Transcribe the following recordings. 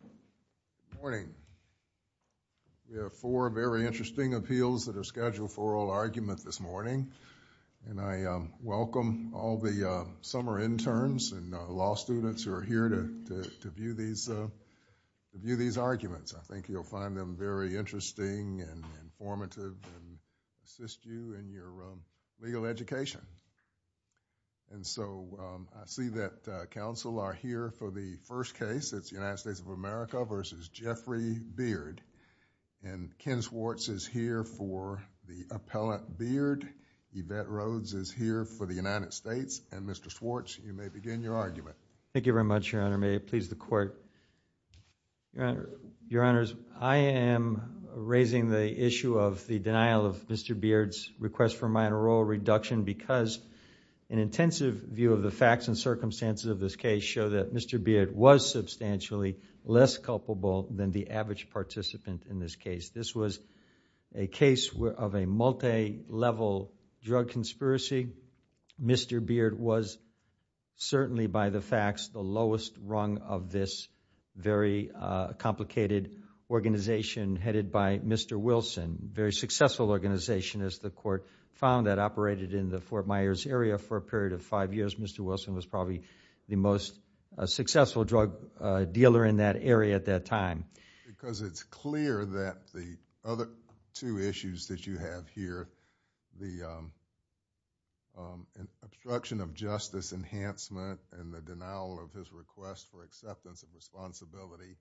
Good morning. We have four very interesting appeals that are scheduled for oral argument this morning, and I welcome all the summer interns and law students who are here to view these arguments. I think you'll find them very interesting and informative and assist you in your legal education. And so I see that counsel are here for the first case. It's the United States of America v. Jeffrey Beard. And Ken Schwartz is here for the appellant Beard. Yvette Rhodes is here for the United States. And Mr. Schwartz, you may begin your argument. Thank you very much, Your Honor. May it please the Court. Your Honor, I am raising the issue of the denial of Mr. Beard's request for minor oral reduction because an intensive view of the facts and circumstances of this case show that Mr. Beard was substantially less culpable than the average participant in this case. This was a case of a multilevel drug conspiracy. Mr. Beard was certainly by the facts the lowest rung of this very complicated organization headed by Mr. Wilson, a very successful organization as the Court found that operated in the Fort Myers area for a period of five years. Mr. Wilson was the most successful drug dealer in that area at that time. Because it's clear that the other two issues that you have here, the obstruction of justice enhancement and the denial of his request for acceptance of responsibility,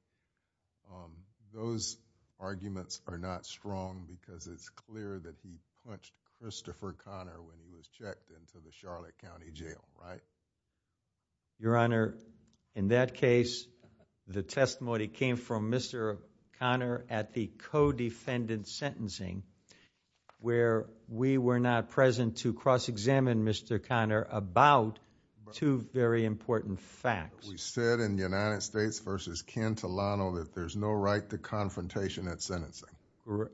those arguments are not strong because it's clear that he punched Christopher Connor when he was checked into the office. Your Honor, in that case, the testimony came from Mr. Connor at the co-defendant sentencing where we were not present to cross-examine Mr. Connor about two very important facts. We said in the United States v. Cantilano that there's no right to confrontation at sentencing.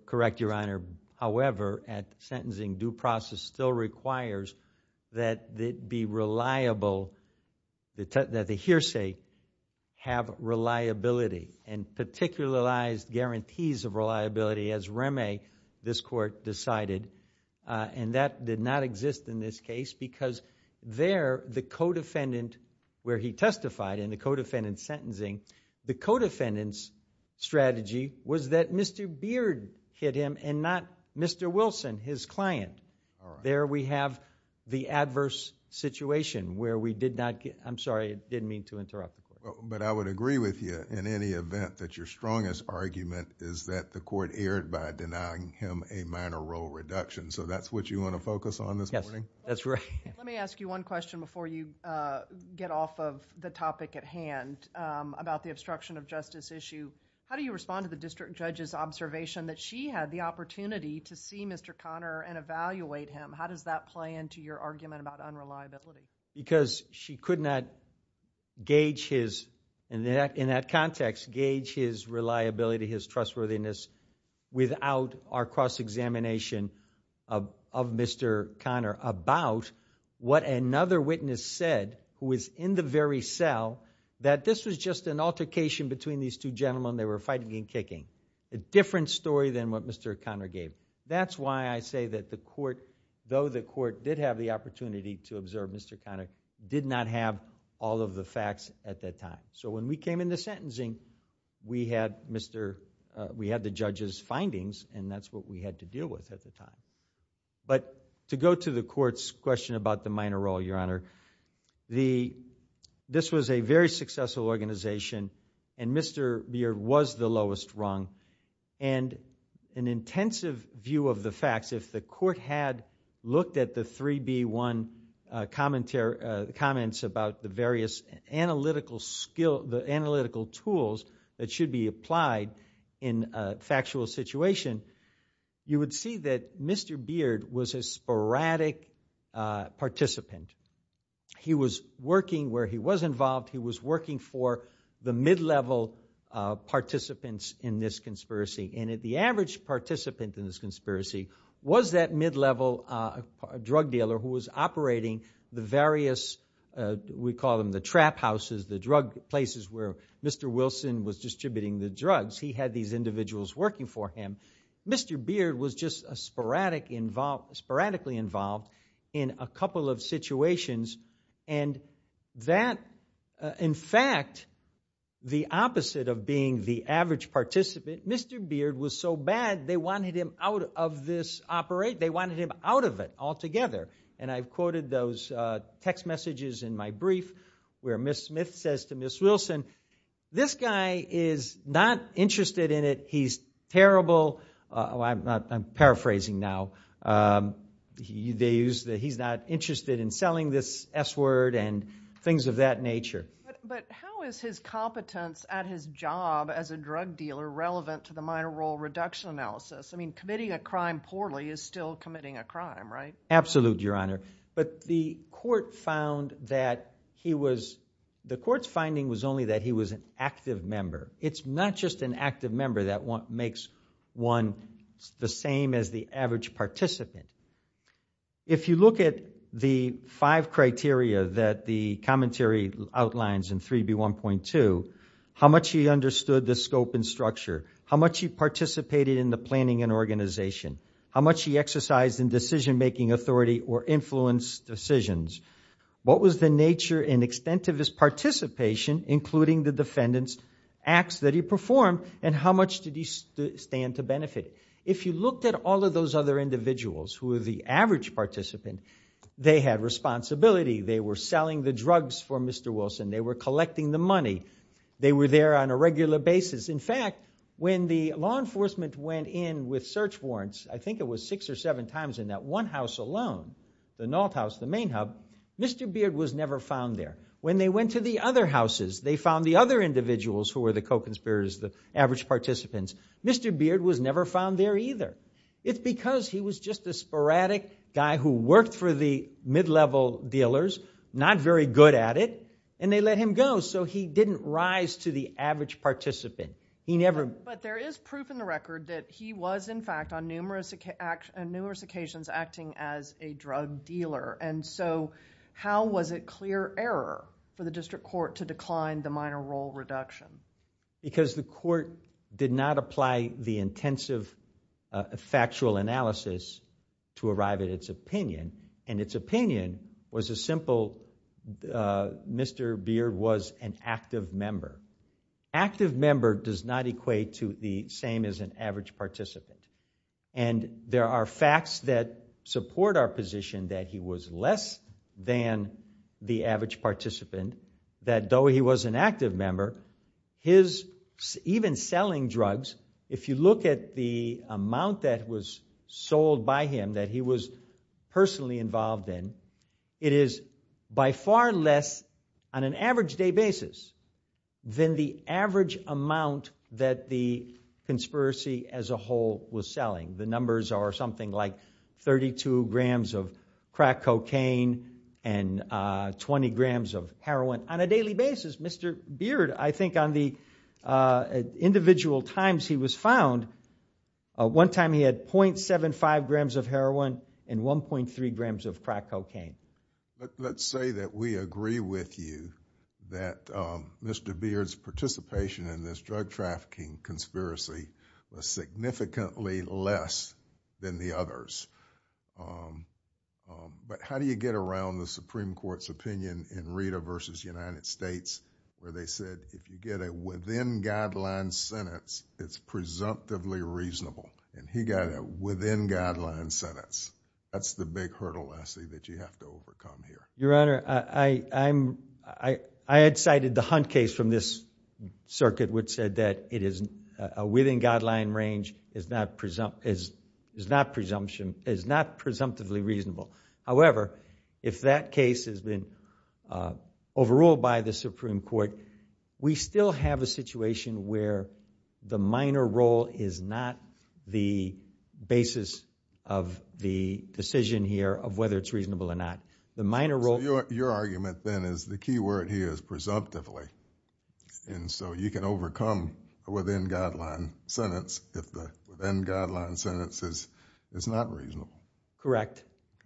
Correct, Your Honor. However, at sentencing, due process still requires that it be reliable, that the hearsay have reliability and particularized guarantees of reliability as Remy, this Court, decided. And that did not exist in this case because there the co-defendant where he testified in the co-defendant sentencing, the co-defendant's beard hit him and not Mr. Wilson, his client. There we have the adverse situation where we did not... I'm sorry, I didn't mean to interrupt. But I would agree with you in any event that your strongest argument is that the Court erred by denying him a minor role reduction. So that's what you want to focus on this morning? Yes, that's right. Let me ask you one question before you get off of the topic at hand about the obstruction of justice issue. How do you respond to the district judge's observation that she had the opportunity to see Mr. Conner and evaluate him? How does that play into your argument about unreliability? Because she could not gauge his, in that context, gauge his reliability, his trustworthiness without our cross-examination of Mr. Conner about what another witness said who was in the very that this was just an altercation between these two gentlemen. They were fighting and kicking. A different story than what Mr. Conner gave. That's why I say that the Court, though the Court did have the opportunity to observe Mr. Conner, did not have all of the facts at that time. So when we came into sentencing, we had the judge's findings and that's what we had to deal with at the time. But to go to the Court's question about the minor role, Your Honor, the, this was a very successful organization and Mr. Beard was the lowest rung. And an intensive view of the facts, if the Court had looked at the 3B1 commentary, comments about the various analytical skill, the analytical tools that should be applied in a factual situation, you would see that Mr. Beard was a sporadic participant. He was working where he was involved. He was working for the mid-level participants in this conspiracy. And the average participant in this conspiracy was that mid-level drug dealer who was operating the various, we call them the trap houses, the drug places where Mr. Wilson was distributing the Mr. Beard was just a sporadic involved, sporadically involved in a couple of situations. And that, in fact, the opposite of being the average participant, Mr. Beard was so bad they wanted him out of this operate, they wanted him out of it altogether. And I've quoted those text messages in my brief where Ms. Smith says to Ms. Wilson, this guy is not interested in it. He's terrible. I'm paraphrasing now. They use that he's not interested in selling this S word and things of that nature. But how is his competence at his job as a drug dealer relevant to the minor role reduction analysis? I mean, committing a crime poorly is still committing a crime, right? Absolutely, Your Honor. But the Court found that he was, the Court's finding was only that he was active member. It's not just an active member that makes one the same as the average participant. If you look at the five criteria that the commentary outlines in 3B1.2, how much he understood the scope and structure, how much he participated in the planning and organization, how much he exercised in decision-making authority or influence decisions, what was the nature and extent of his participation, including the defendant's acts that he performed, and how much did he stand to benefit? If you looked at all of those other individuals who were the average participant, they had responsibility. They were selling the drugs for Mr. Wilson. They were collecting the money. They were there on a regular basis. In fact, when the law enforcement went in with search warrants, I think it was six or seven times in that one house alone, the north house, the main When they went to the other houses, they found the other individuals who were the co-conspirators, the average participants. Mr. Beard was never found there either. It's because he was just a sporadic guy who worked for the mid-level dealers, not very good at it, and they let him go, so he didn't rise to the average participant. He never... But there is proof in the record that he was, in fact, on numerous occasions acting as a drug dealer. How was it clear error for the district court to decline the minor role reduction? Because the court did not apply the intensive factual analysis to arrive at its opinion, and its opinion was as simple, Mr. Beard was an active member. Active member does not equate to the same as an average participant, and there are facts that support our position that he was less than the average participant, that though he was an active member, his even selling drugs, if you look at the amount that was sold by him that he was then the average amount that the conspiracy as a whole was selling. The numbers are something like 32 grams of crack cocaine and 20 grams of heroin on a daily basis. Mr. Beard, I think on the individual times he was found, one time he had 0.75 grams of heroin and 1.3 grams of crack cocaine. Let's say that we agree with you that Mr. Beard's participation in this drug trafficking conspiracy was significantly less than the others, but how do you get around the Supreme Court's opinion in Rita versus United States where they said if you get a within guideline sentence, it's presumptively reasonable, and he got a within guideline sentence. That's the big hurdle, Leslie, that you have to overcome here. Your Honor, I had cited the Hunt case from this circuit which said that a within guideline range is not presumptively reasonable. However, if that case has been overruled by the Supreme Court, we still have a situation where the minor role is not the basis of the decision here of whether it's reasonable or not. Your argument then is the key word here is presumptively, and so you can overcome a within guideline sentence if the within guideline sentence is not reasonable. Correct,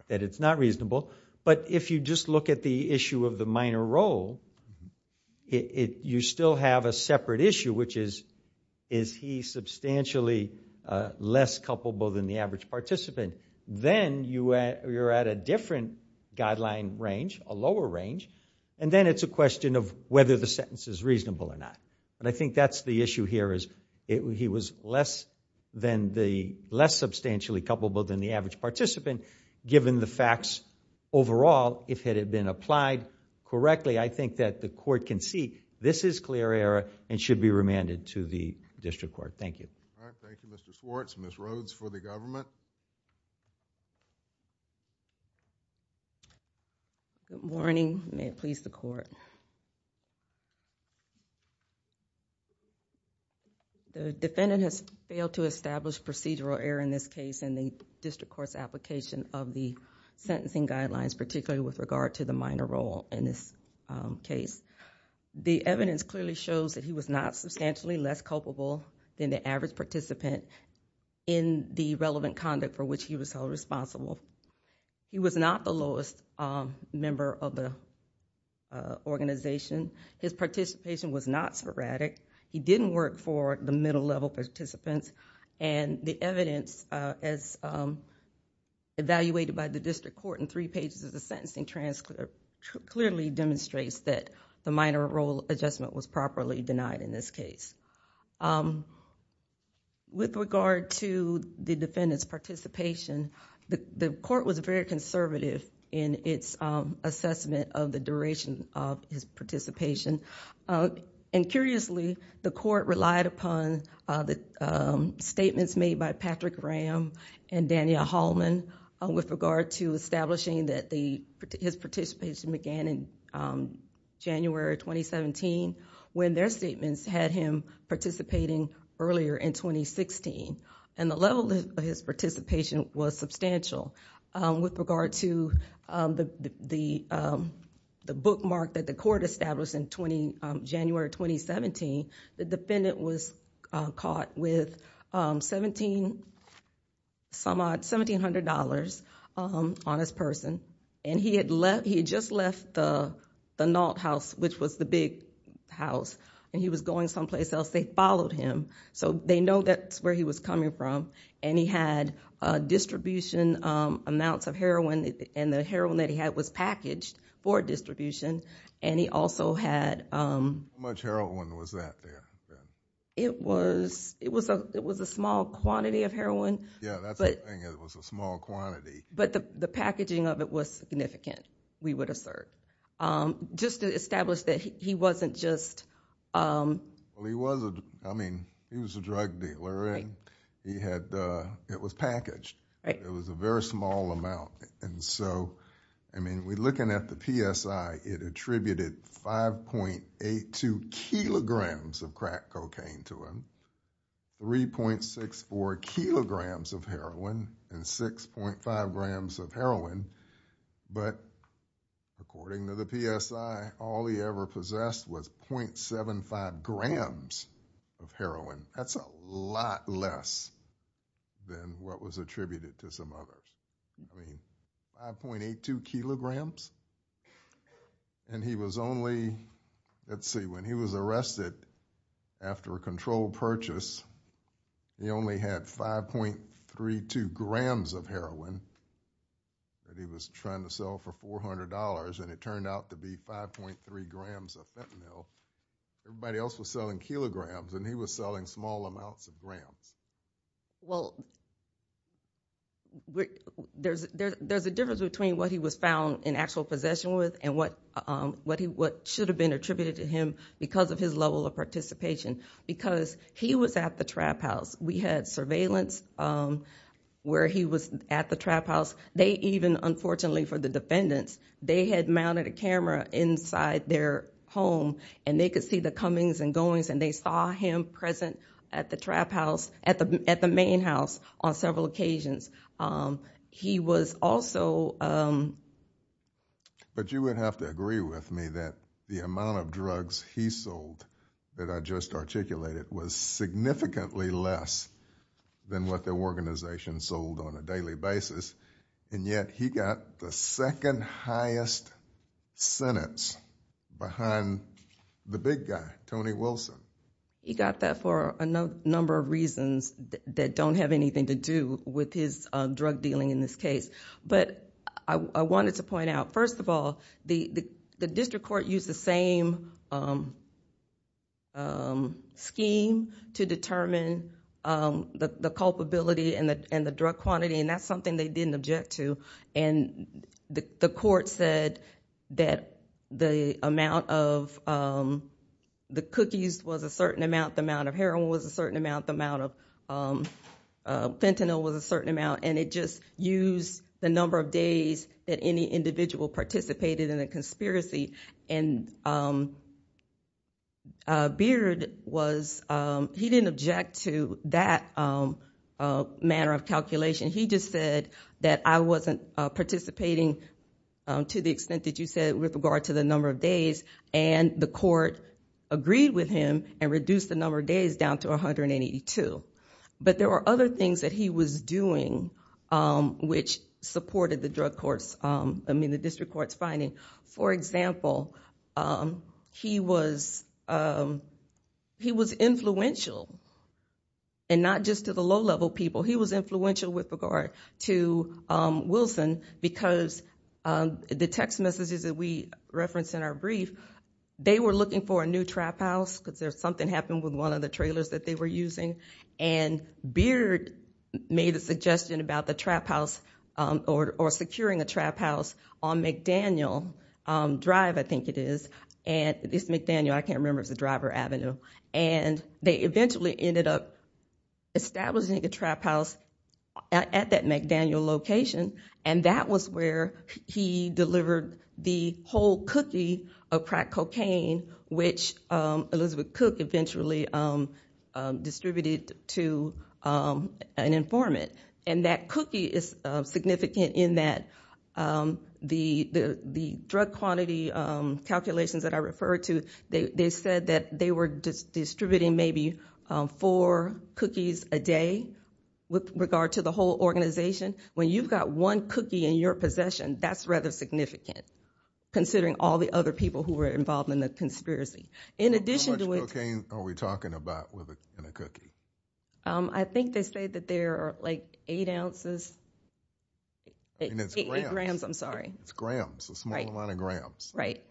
that it's not reasonable, but if you just look at the issue of the minor role, you still have a separate issue, which is is he substantially less culpable than the average participant. Then you're at a different guideline range, a lower range, and then it's a question of whether the sentence is reasonable or not, and I think that's the issue here is he was less than the less substantially culpable than the average participant given the facts overall. If it had been applied correctly, I think that the court can see this is clear error and should be remanded to the district court. Thank you. All right. Thank you, Mr. Schwartz. Ms. Rhodes for the government. Good morning. May it please the court. The defendant has failed to establish procedural error in this case in the of the sentencing guidelines, particularly with regard to the minor role in this case. The evidence clearly shows that he was not substantially less culpable than the average participant in the relevant conduct for which he was held responsible. He was not the lowest member of the organization. His participation was not sporadic. He didn't work for the middle by the district court in three pages of the sentencing transcript clearly demonstrates that the minor role adjustment was properly denied in this case. With regard to the defendant's participation, the court was very conservative in its assessment of the duration of his participation. Curiously, the court relied upon the statements made by Patrick Graham and Daniel Hallman with regard to establishing that his participation began in January 2017 when their statements had him participating earlier in 2016. The level of his participation was substantial. With regard to the bookmark that the court established in January 2017, the defendant was caught with $1,700 on his person. He had just left the Nault House, which was the big house. He was going someplace else. They followed him. They know that's where he was coming from. He had distribution amounts of heroin. The heroin that he had was packaged for distribution. He also had... How much heroin was that there? It was a small quantity of heroin. Yeah, that's the thing. It was a small quantity. The packaging of it was significant, we would assert. Just to establish that he wasn't just... He was a drug dealer. It was packaged. It was a very small amount. We're looking at the PSI. It attributed 5.82 kilograms of crack cocaine to him, 3.64 kilograms of heroin, and 6.5 grams of heroin. But according to the PSI, all he ever possessed was .75 grams of heroin. That's a lot less than what was attributed to some others. I mean, 5.82 kilograms? Let's see. When he was arrested after a controlled purchase, he only had 5.32 grams of heroin that he was trying to sell for $400, and it turned out to be 5.3 grams of fentanyl. Everybody else was selling kilograms, and he was selling small amounts of grams. Well, there's a difference between what he was found in actual possession with, and what should have been attributed to him because of his level of participation. Because he was at the trap house. We had surveillance where he was at the trap house. They even, unfortunately for the defendants, they had mounted a camera inside their home, and they could see the comings and goings, and they saw him present at the trap house, at the main house on several occasions. He was also- But you would have to agree with me that the amount of drugs he sold that I just articulated was significantly less than what the organization sold on a daily basis, and yet he got the second highest sentence behind the big guy, Tony Wilson. He got that for a number of reasons that don't have anything to do with his drug dealing in this case. But I wanted to point out, first of all, the district court used the same scheme to determine the culpability and the drug quantity, and that's something they didn't object to. And the court said that the amount of the cookies was a certain amount, the amount of heroin was a certain amount, the amount of fentanyl was a certain amount, and it just used the number of days that any individual participated in a conspiracy. And Beard was- He just said that I wasn't participating to the extent that you said with regard to the number of days, and the court agreed with him and reduced the number of days down to 182. But there were other things that he was doing which supported the district court's finding. For example, he was influential, and not just to the low-level people. He was influential with regard to Wilson because the text messages that we referenced in our brief, they were looking for a new trap house because something happened with one of the trailers that they were using, and Beard made a trap house, or securing a trap house on McDaniel Drive, I think it is. It's McDaniel, I can't remember if it's a driver avenue. And they eventually ended up establishing a trap house at that McDaniel location, and that was where he delivered the whole cookie of crack cocaine, which Elizabeth Cook eventually distributed to an informant. And that cookie is significant in that the drug quantity calculations that I referred to, they said that they were distributing maybe four cookies a day with regard to the whole organization. When you've got one cookie in your possession, that's rather significant, considering all the other people who were involved in the conspiracy. How much cocaine are we talking about in a cookie? I think they say that there are like eight ounces, eight grams, I'm sorry. It's grams, a small amount of grams. Right.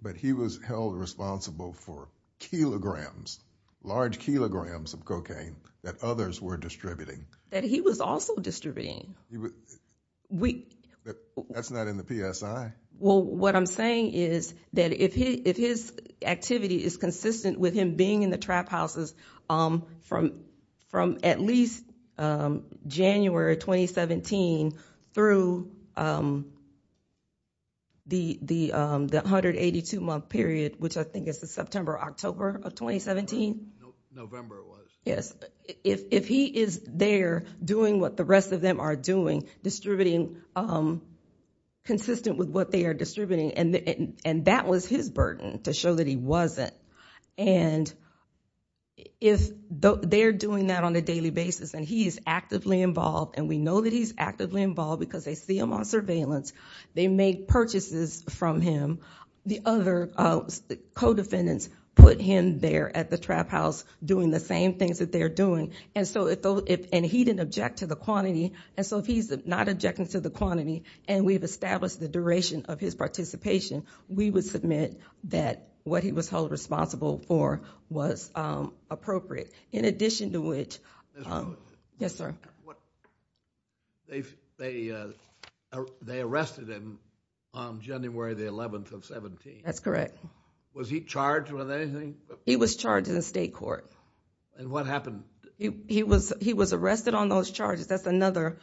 But he was held responsible for kilograms, large kilograms of cocaine that others were distributing. That he was also distributing. That's not in the PSI. Well, what I'm saying is that if his activity is consistent with him being in the trap houses from at least January 2017 through the 182-month period, which I think is the September, October of 2017. November it was. Yes. If he is there doing what the rest of them are doing, distributing consistent with what they are distributing. And that was his burden to show that he wasn't. And if they're doing that on a daily basis and he is actively involved, and we know that he's actively involved because they see him on surveillance. They make purchases from him. The other co-defendants put him there at the trap house doing the same things that they're doing. And so if, and he didn't object to the quantity. And so if he's not objecting to the quantity and we've established the duration of his participation, we would submit that what he was held responsible for was appropriate. In addition to which, yes, sir. They arrested him on January the 11th of 17. That's correct. Was he charged with anything? He was charged in the state court. And what happened? He was, he was arrested on those charges. That's another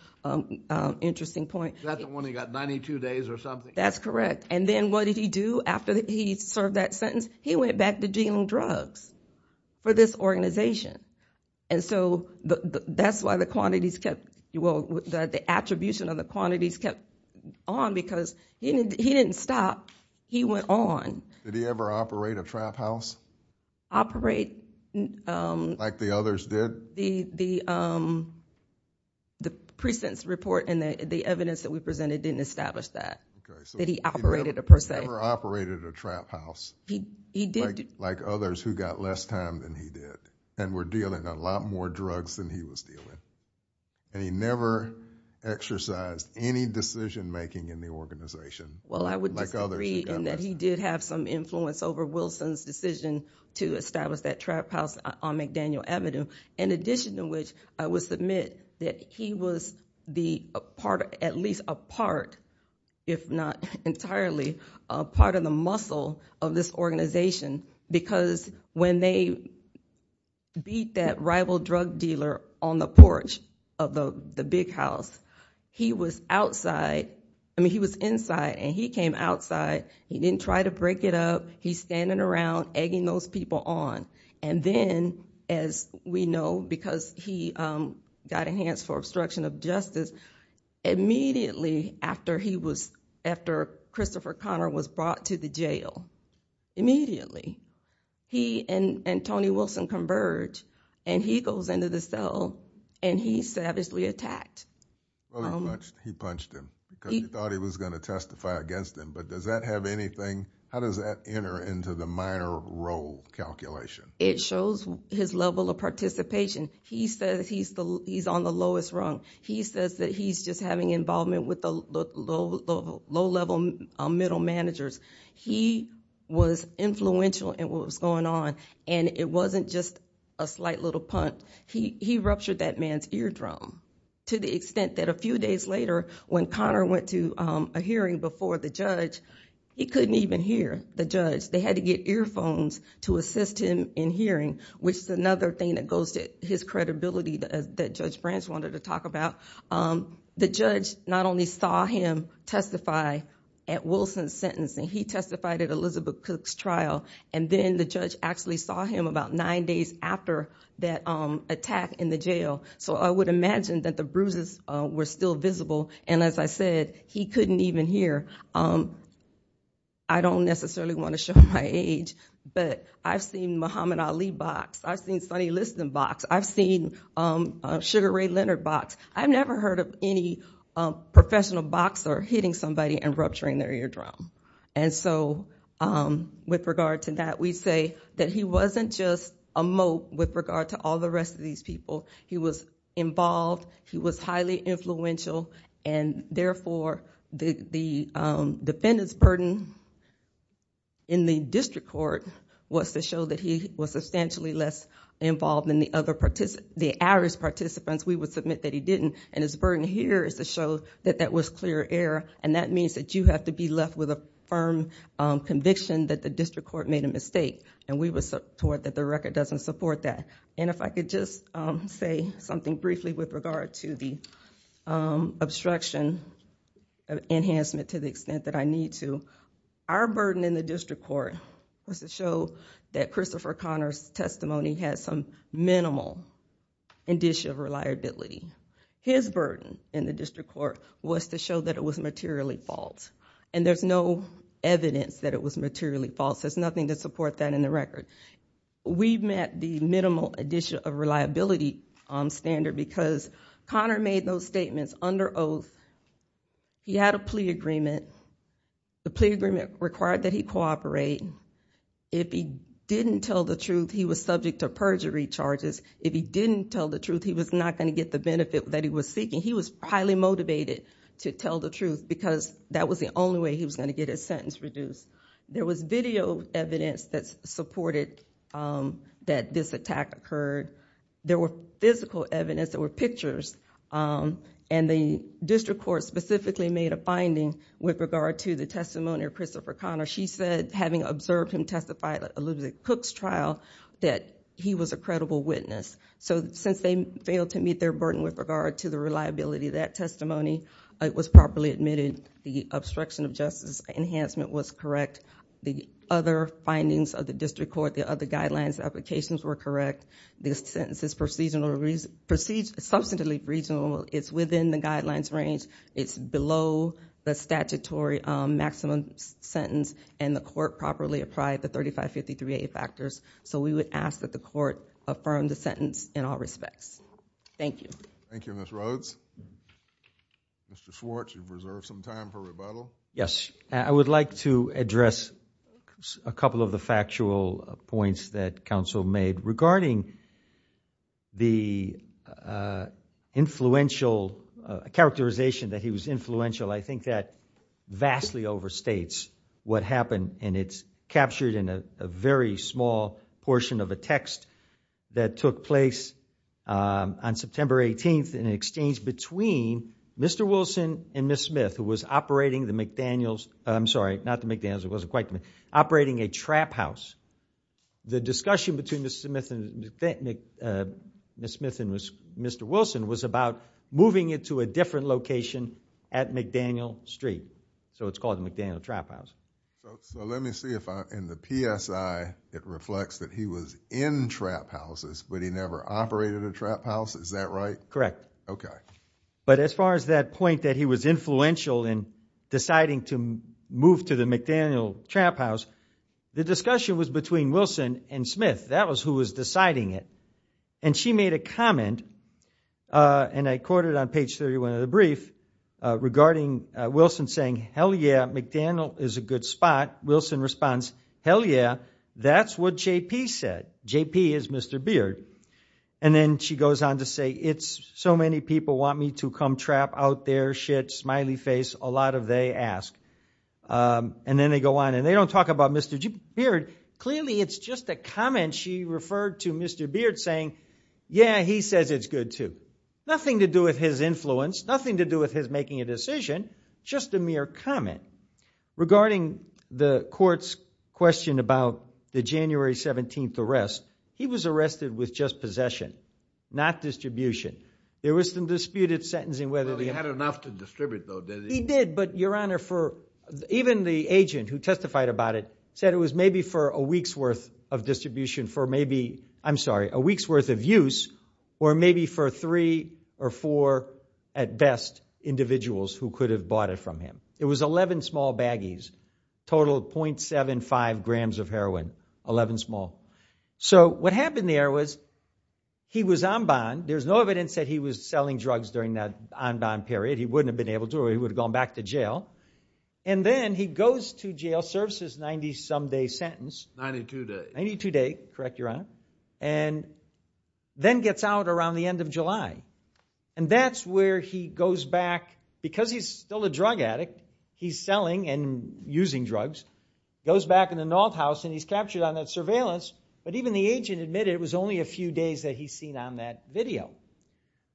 interesting point. That's the one he got 92 days or something. That's correct. And then what did he do after he served that sentence? He went back to dealing drugs for this organization. And so that's why the quantities kept, well, the attribution of the quantities kept on because he didn't, he didn't stop. He went on. Did he ever operate a trap house? Operate. Like the others did? The, the, the precinct's report and the evidence that we presented didn't establish that. Okay. That he operated a per se. He never operated a trap house. He did. Like others who got less time than he did and were dealing a lot more drugs than he was dealing. And he never exercised any decision-making in the organization. Well, I would disagree in that he did have some influence over Wilson's decision to establish that trap house on McDaniel Avenue. In addition to which I would submit that he was the part, at least a part, if not entirely a part of the muscle of this organization, because when they beat that rival drug dealer on the porch of the big house, he was outside. I mean, he was inside and he came outside. He didn't try to break it up. He's standing around egging those people on. And then as we know, because he got enhanced for obstruction of justice immediately after he was, after Christopher Conner was brought to the jail, immediately, he and Tony Wilson converge and he goes into the cell and he savagely attacked. Well, he punched him because he thought he was going to testify against him, but does that have anything, how does that enter into the minor role calculation? It shows his level of participation. He says he's on the lowest rung. He says that he's just having involvement with the low-level middle managers. He was influential in what was going on and it wasn't just a slight little punt. He ruptured that man's eardrum to the extent that a few days later when Conner went to a hearing before the judge, he couldn't even hear the judge. They had to get earphones to assist him in hearing, which is another thing that goes to his credibility that Judge Branch wanted to talk about. The judge not only saw him testify at Wilson's sentencing, he testified at Elizabeth Cook's trial, and then the judge actually saw him about nine days after that attack in the jail. I would imagine that the bruises were still visible and as I said, he couldn't even hear. I don't necessarily want to show my age, but I've seen Muhammad Ali box. I've seen Sonny Liston box. I've seen Sugar Ray Leonard box. I've never heard of any professional boxer hitting somebody and rupturing their eardrum. With regard to that, we say that he wasn't just a moat with regard to all the rest of these people. He was involved, he was highly influential, and therefore the defendant's burden in the district court was to show that he was substantially less involved than the average participants. We would submit that he didn't, and his burden here is to show that that was clear error, and that means that you have to be left with a firm conviction that the district court made a mistake, and we would support that the record doesn't support that. If I could just say something briefly with regard to the obstruction enhancement to the extent that I need to, our burden in the district court was to show that it was materially false, and there's no evidence that it was materially false. There's nothing to support that in the record. We've met the minimal addition of reliability standard because Connor made those statements under oath. He had a plea agreement. The plea agreement required that he cooperate. If he didn't tell the truth, he was subject to perjury charges. If he didn't tell the truth, he was not going to get the benefit that he was seeking. He was highly motivated to tell the truth because that was the only way he was going to get his sentence reduced. There was video evidence that supported that this attack occurred. There were physical evidence. There were pictures, and the district court specifically made a finding with regard to the having observed him testify at Elizabeth Cook's trial that he was a credible witness. Since they failed to meet their burden with regard to the reliability of that testimony, it was properly admitted the obstruction of justice enhancement was correct. The other findings of the district court, the other guidelines and applications were correct. This sentence is substantively reasonable. It's within the guidelines range. It's below the statutory maximum sentence, and the court properly applied the 3553A factors, so we would ask that the court affirm the sentence in all respects. Thank you. Thank you, Ms. Rhodes. Mr. Schwartz, you've reserved some time for rebuttal. Yes, I would like to address a couple of the factual points that counsel made regarding the influential characterization that he was influential. I think that vastly overstates what happened, and it's captured in a very small portion of a text that took place on September 18th in an exchange between Mr. Wilson and Ms. Smith, who was operating a trap house. The discussion between Ms. Smith and Mr. Wilson was about moving it to a different location at McDaniel Street, so it's called McDaniel Trap House. So let me see if in the PSI it reflects that he was in trap houses, but he never operated a trap house. Is that right? Correct. Okay. But as far as that point that he was influential in deciding to move to the McDaniel Trap House, the discussion was between Wilson and Smith. That was who was deciding it. And she made a comment, and I quote it on page 31 of the brief, regarding Wilson saying, hell yeah, McDaniel is a good spot. Wilson responds, hell yeah, that's what JP said. JP is Mr. Beard. And then she goes on to say, it's so many people want me to come trap out their shit, smiley face, a lot of they ask. And then they go on, and they don't talk about Mr. Beard. Clearly it's just a comment she referred to Mr. Beard saying, yeah, he says it's good too. Nothing to do with his influence, nothing to do with his making a decision, just a mere comment. Regarding the court's question about the January 17th arrest, he was arrested with just possession, not distribution. There was some disputed sentencing whether he had enough to distribute though. He did, but your honor, for even the agent who testified about it said it was maybe for a week's worth of distribution for maybe, I'm sorry, a week's worth of use, or maybe for three or four at best individuals who could have bought it from him. It was 11 small baggies, total 0.75 grams of heroin, 11 small. So what happened there was he was en banc. There's no evidence that he was selling drugs during that en banc period. He wouldn't have been able to, or he would have gone back to jail. And then he goes to jail, serves his 90-some day sentence. 92 days. 92 days, correct your honor. And then gets out around the end of July. And that's where he goes back, because he's still a drug addict, he's selling and using drugs, goes back in the North House, and he's captured on that surveillance. But even the agent admitted it was only a few days that he's seen on that video.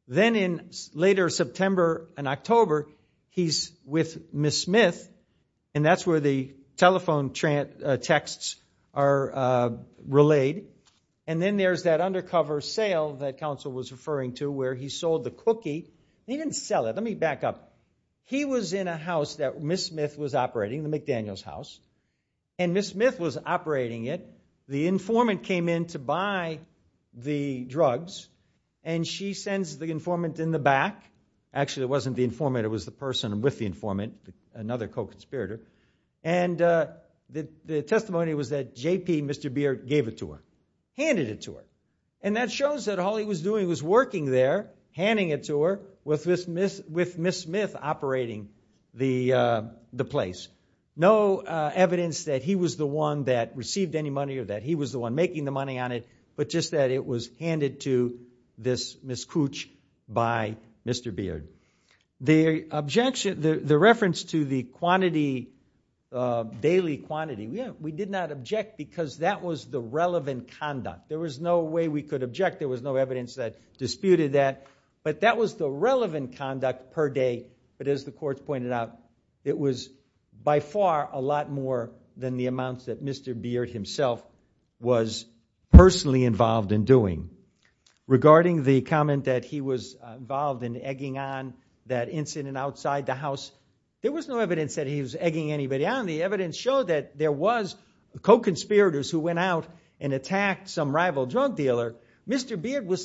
Then in later September and October, he's with Ms. Smith, and that's where the telephone texts are relayed. And then there's that undercover sale that counsel was referring to where he sold the cookie. He didn't sell it. Let me back up. He was in a house that Ms. Smith was operating, the McDaniel's house, and Ms. Smith was operating it. The informant came in to buy the drugs, and she sends the informant in the back. Actually it wasn't the informant, it was the person with the informant, another co-conspirator. And the testimony was that JP, Mr. Beer, gave it to her. Handed it to her. And that shows that all he was doing was working there, handing it to her, with Ms. Smith operating the place. No evidence that he was the one that received any money or that he was the one making the money on it, but just that it was handed to this Ms. Cooch by Mr. Beer. The objection, the reference to the quantity, daily quantity, we did not object because that was the relevant conduct. There was no way we could object. There was no evidence that disputed that. But that was the relevant conduct per day. But as the courts pointed out, it was by far a lot more than the amounts that Mr. Beard himself was personally involved in doing. Regarding the comment that he was involved in egging on that incident outside the house, there was no evidence that he was egging anybody on. The evidence showed that there was co-conspirators who went out and attacked some rival drug dealer. Mr. Beard was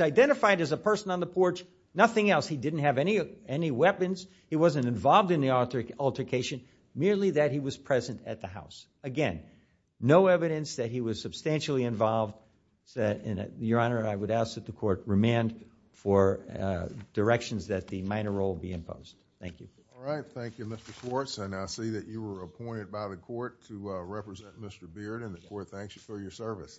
identified as a person on the porch. Nothing else. He didn't have any weapons. He wasn't involved in the altercation. Merely that he was present at the house. Again, no evidence that he was substantially involved. Your Honor, I would ask that the court remand for directions that the minor role be imposed. Thank you. All right. Thank you, Mr. Schwartz. I now see that you were appointed by the court to represent Mr. Beard, and the court thanks you for your service. Thank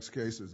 you, Your Honor.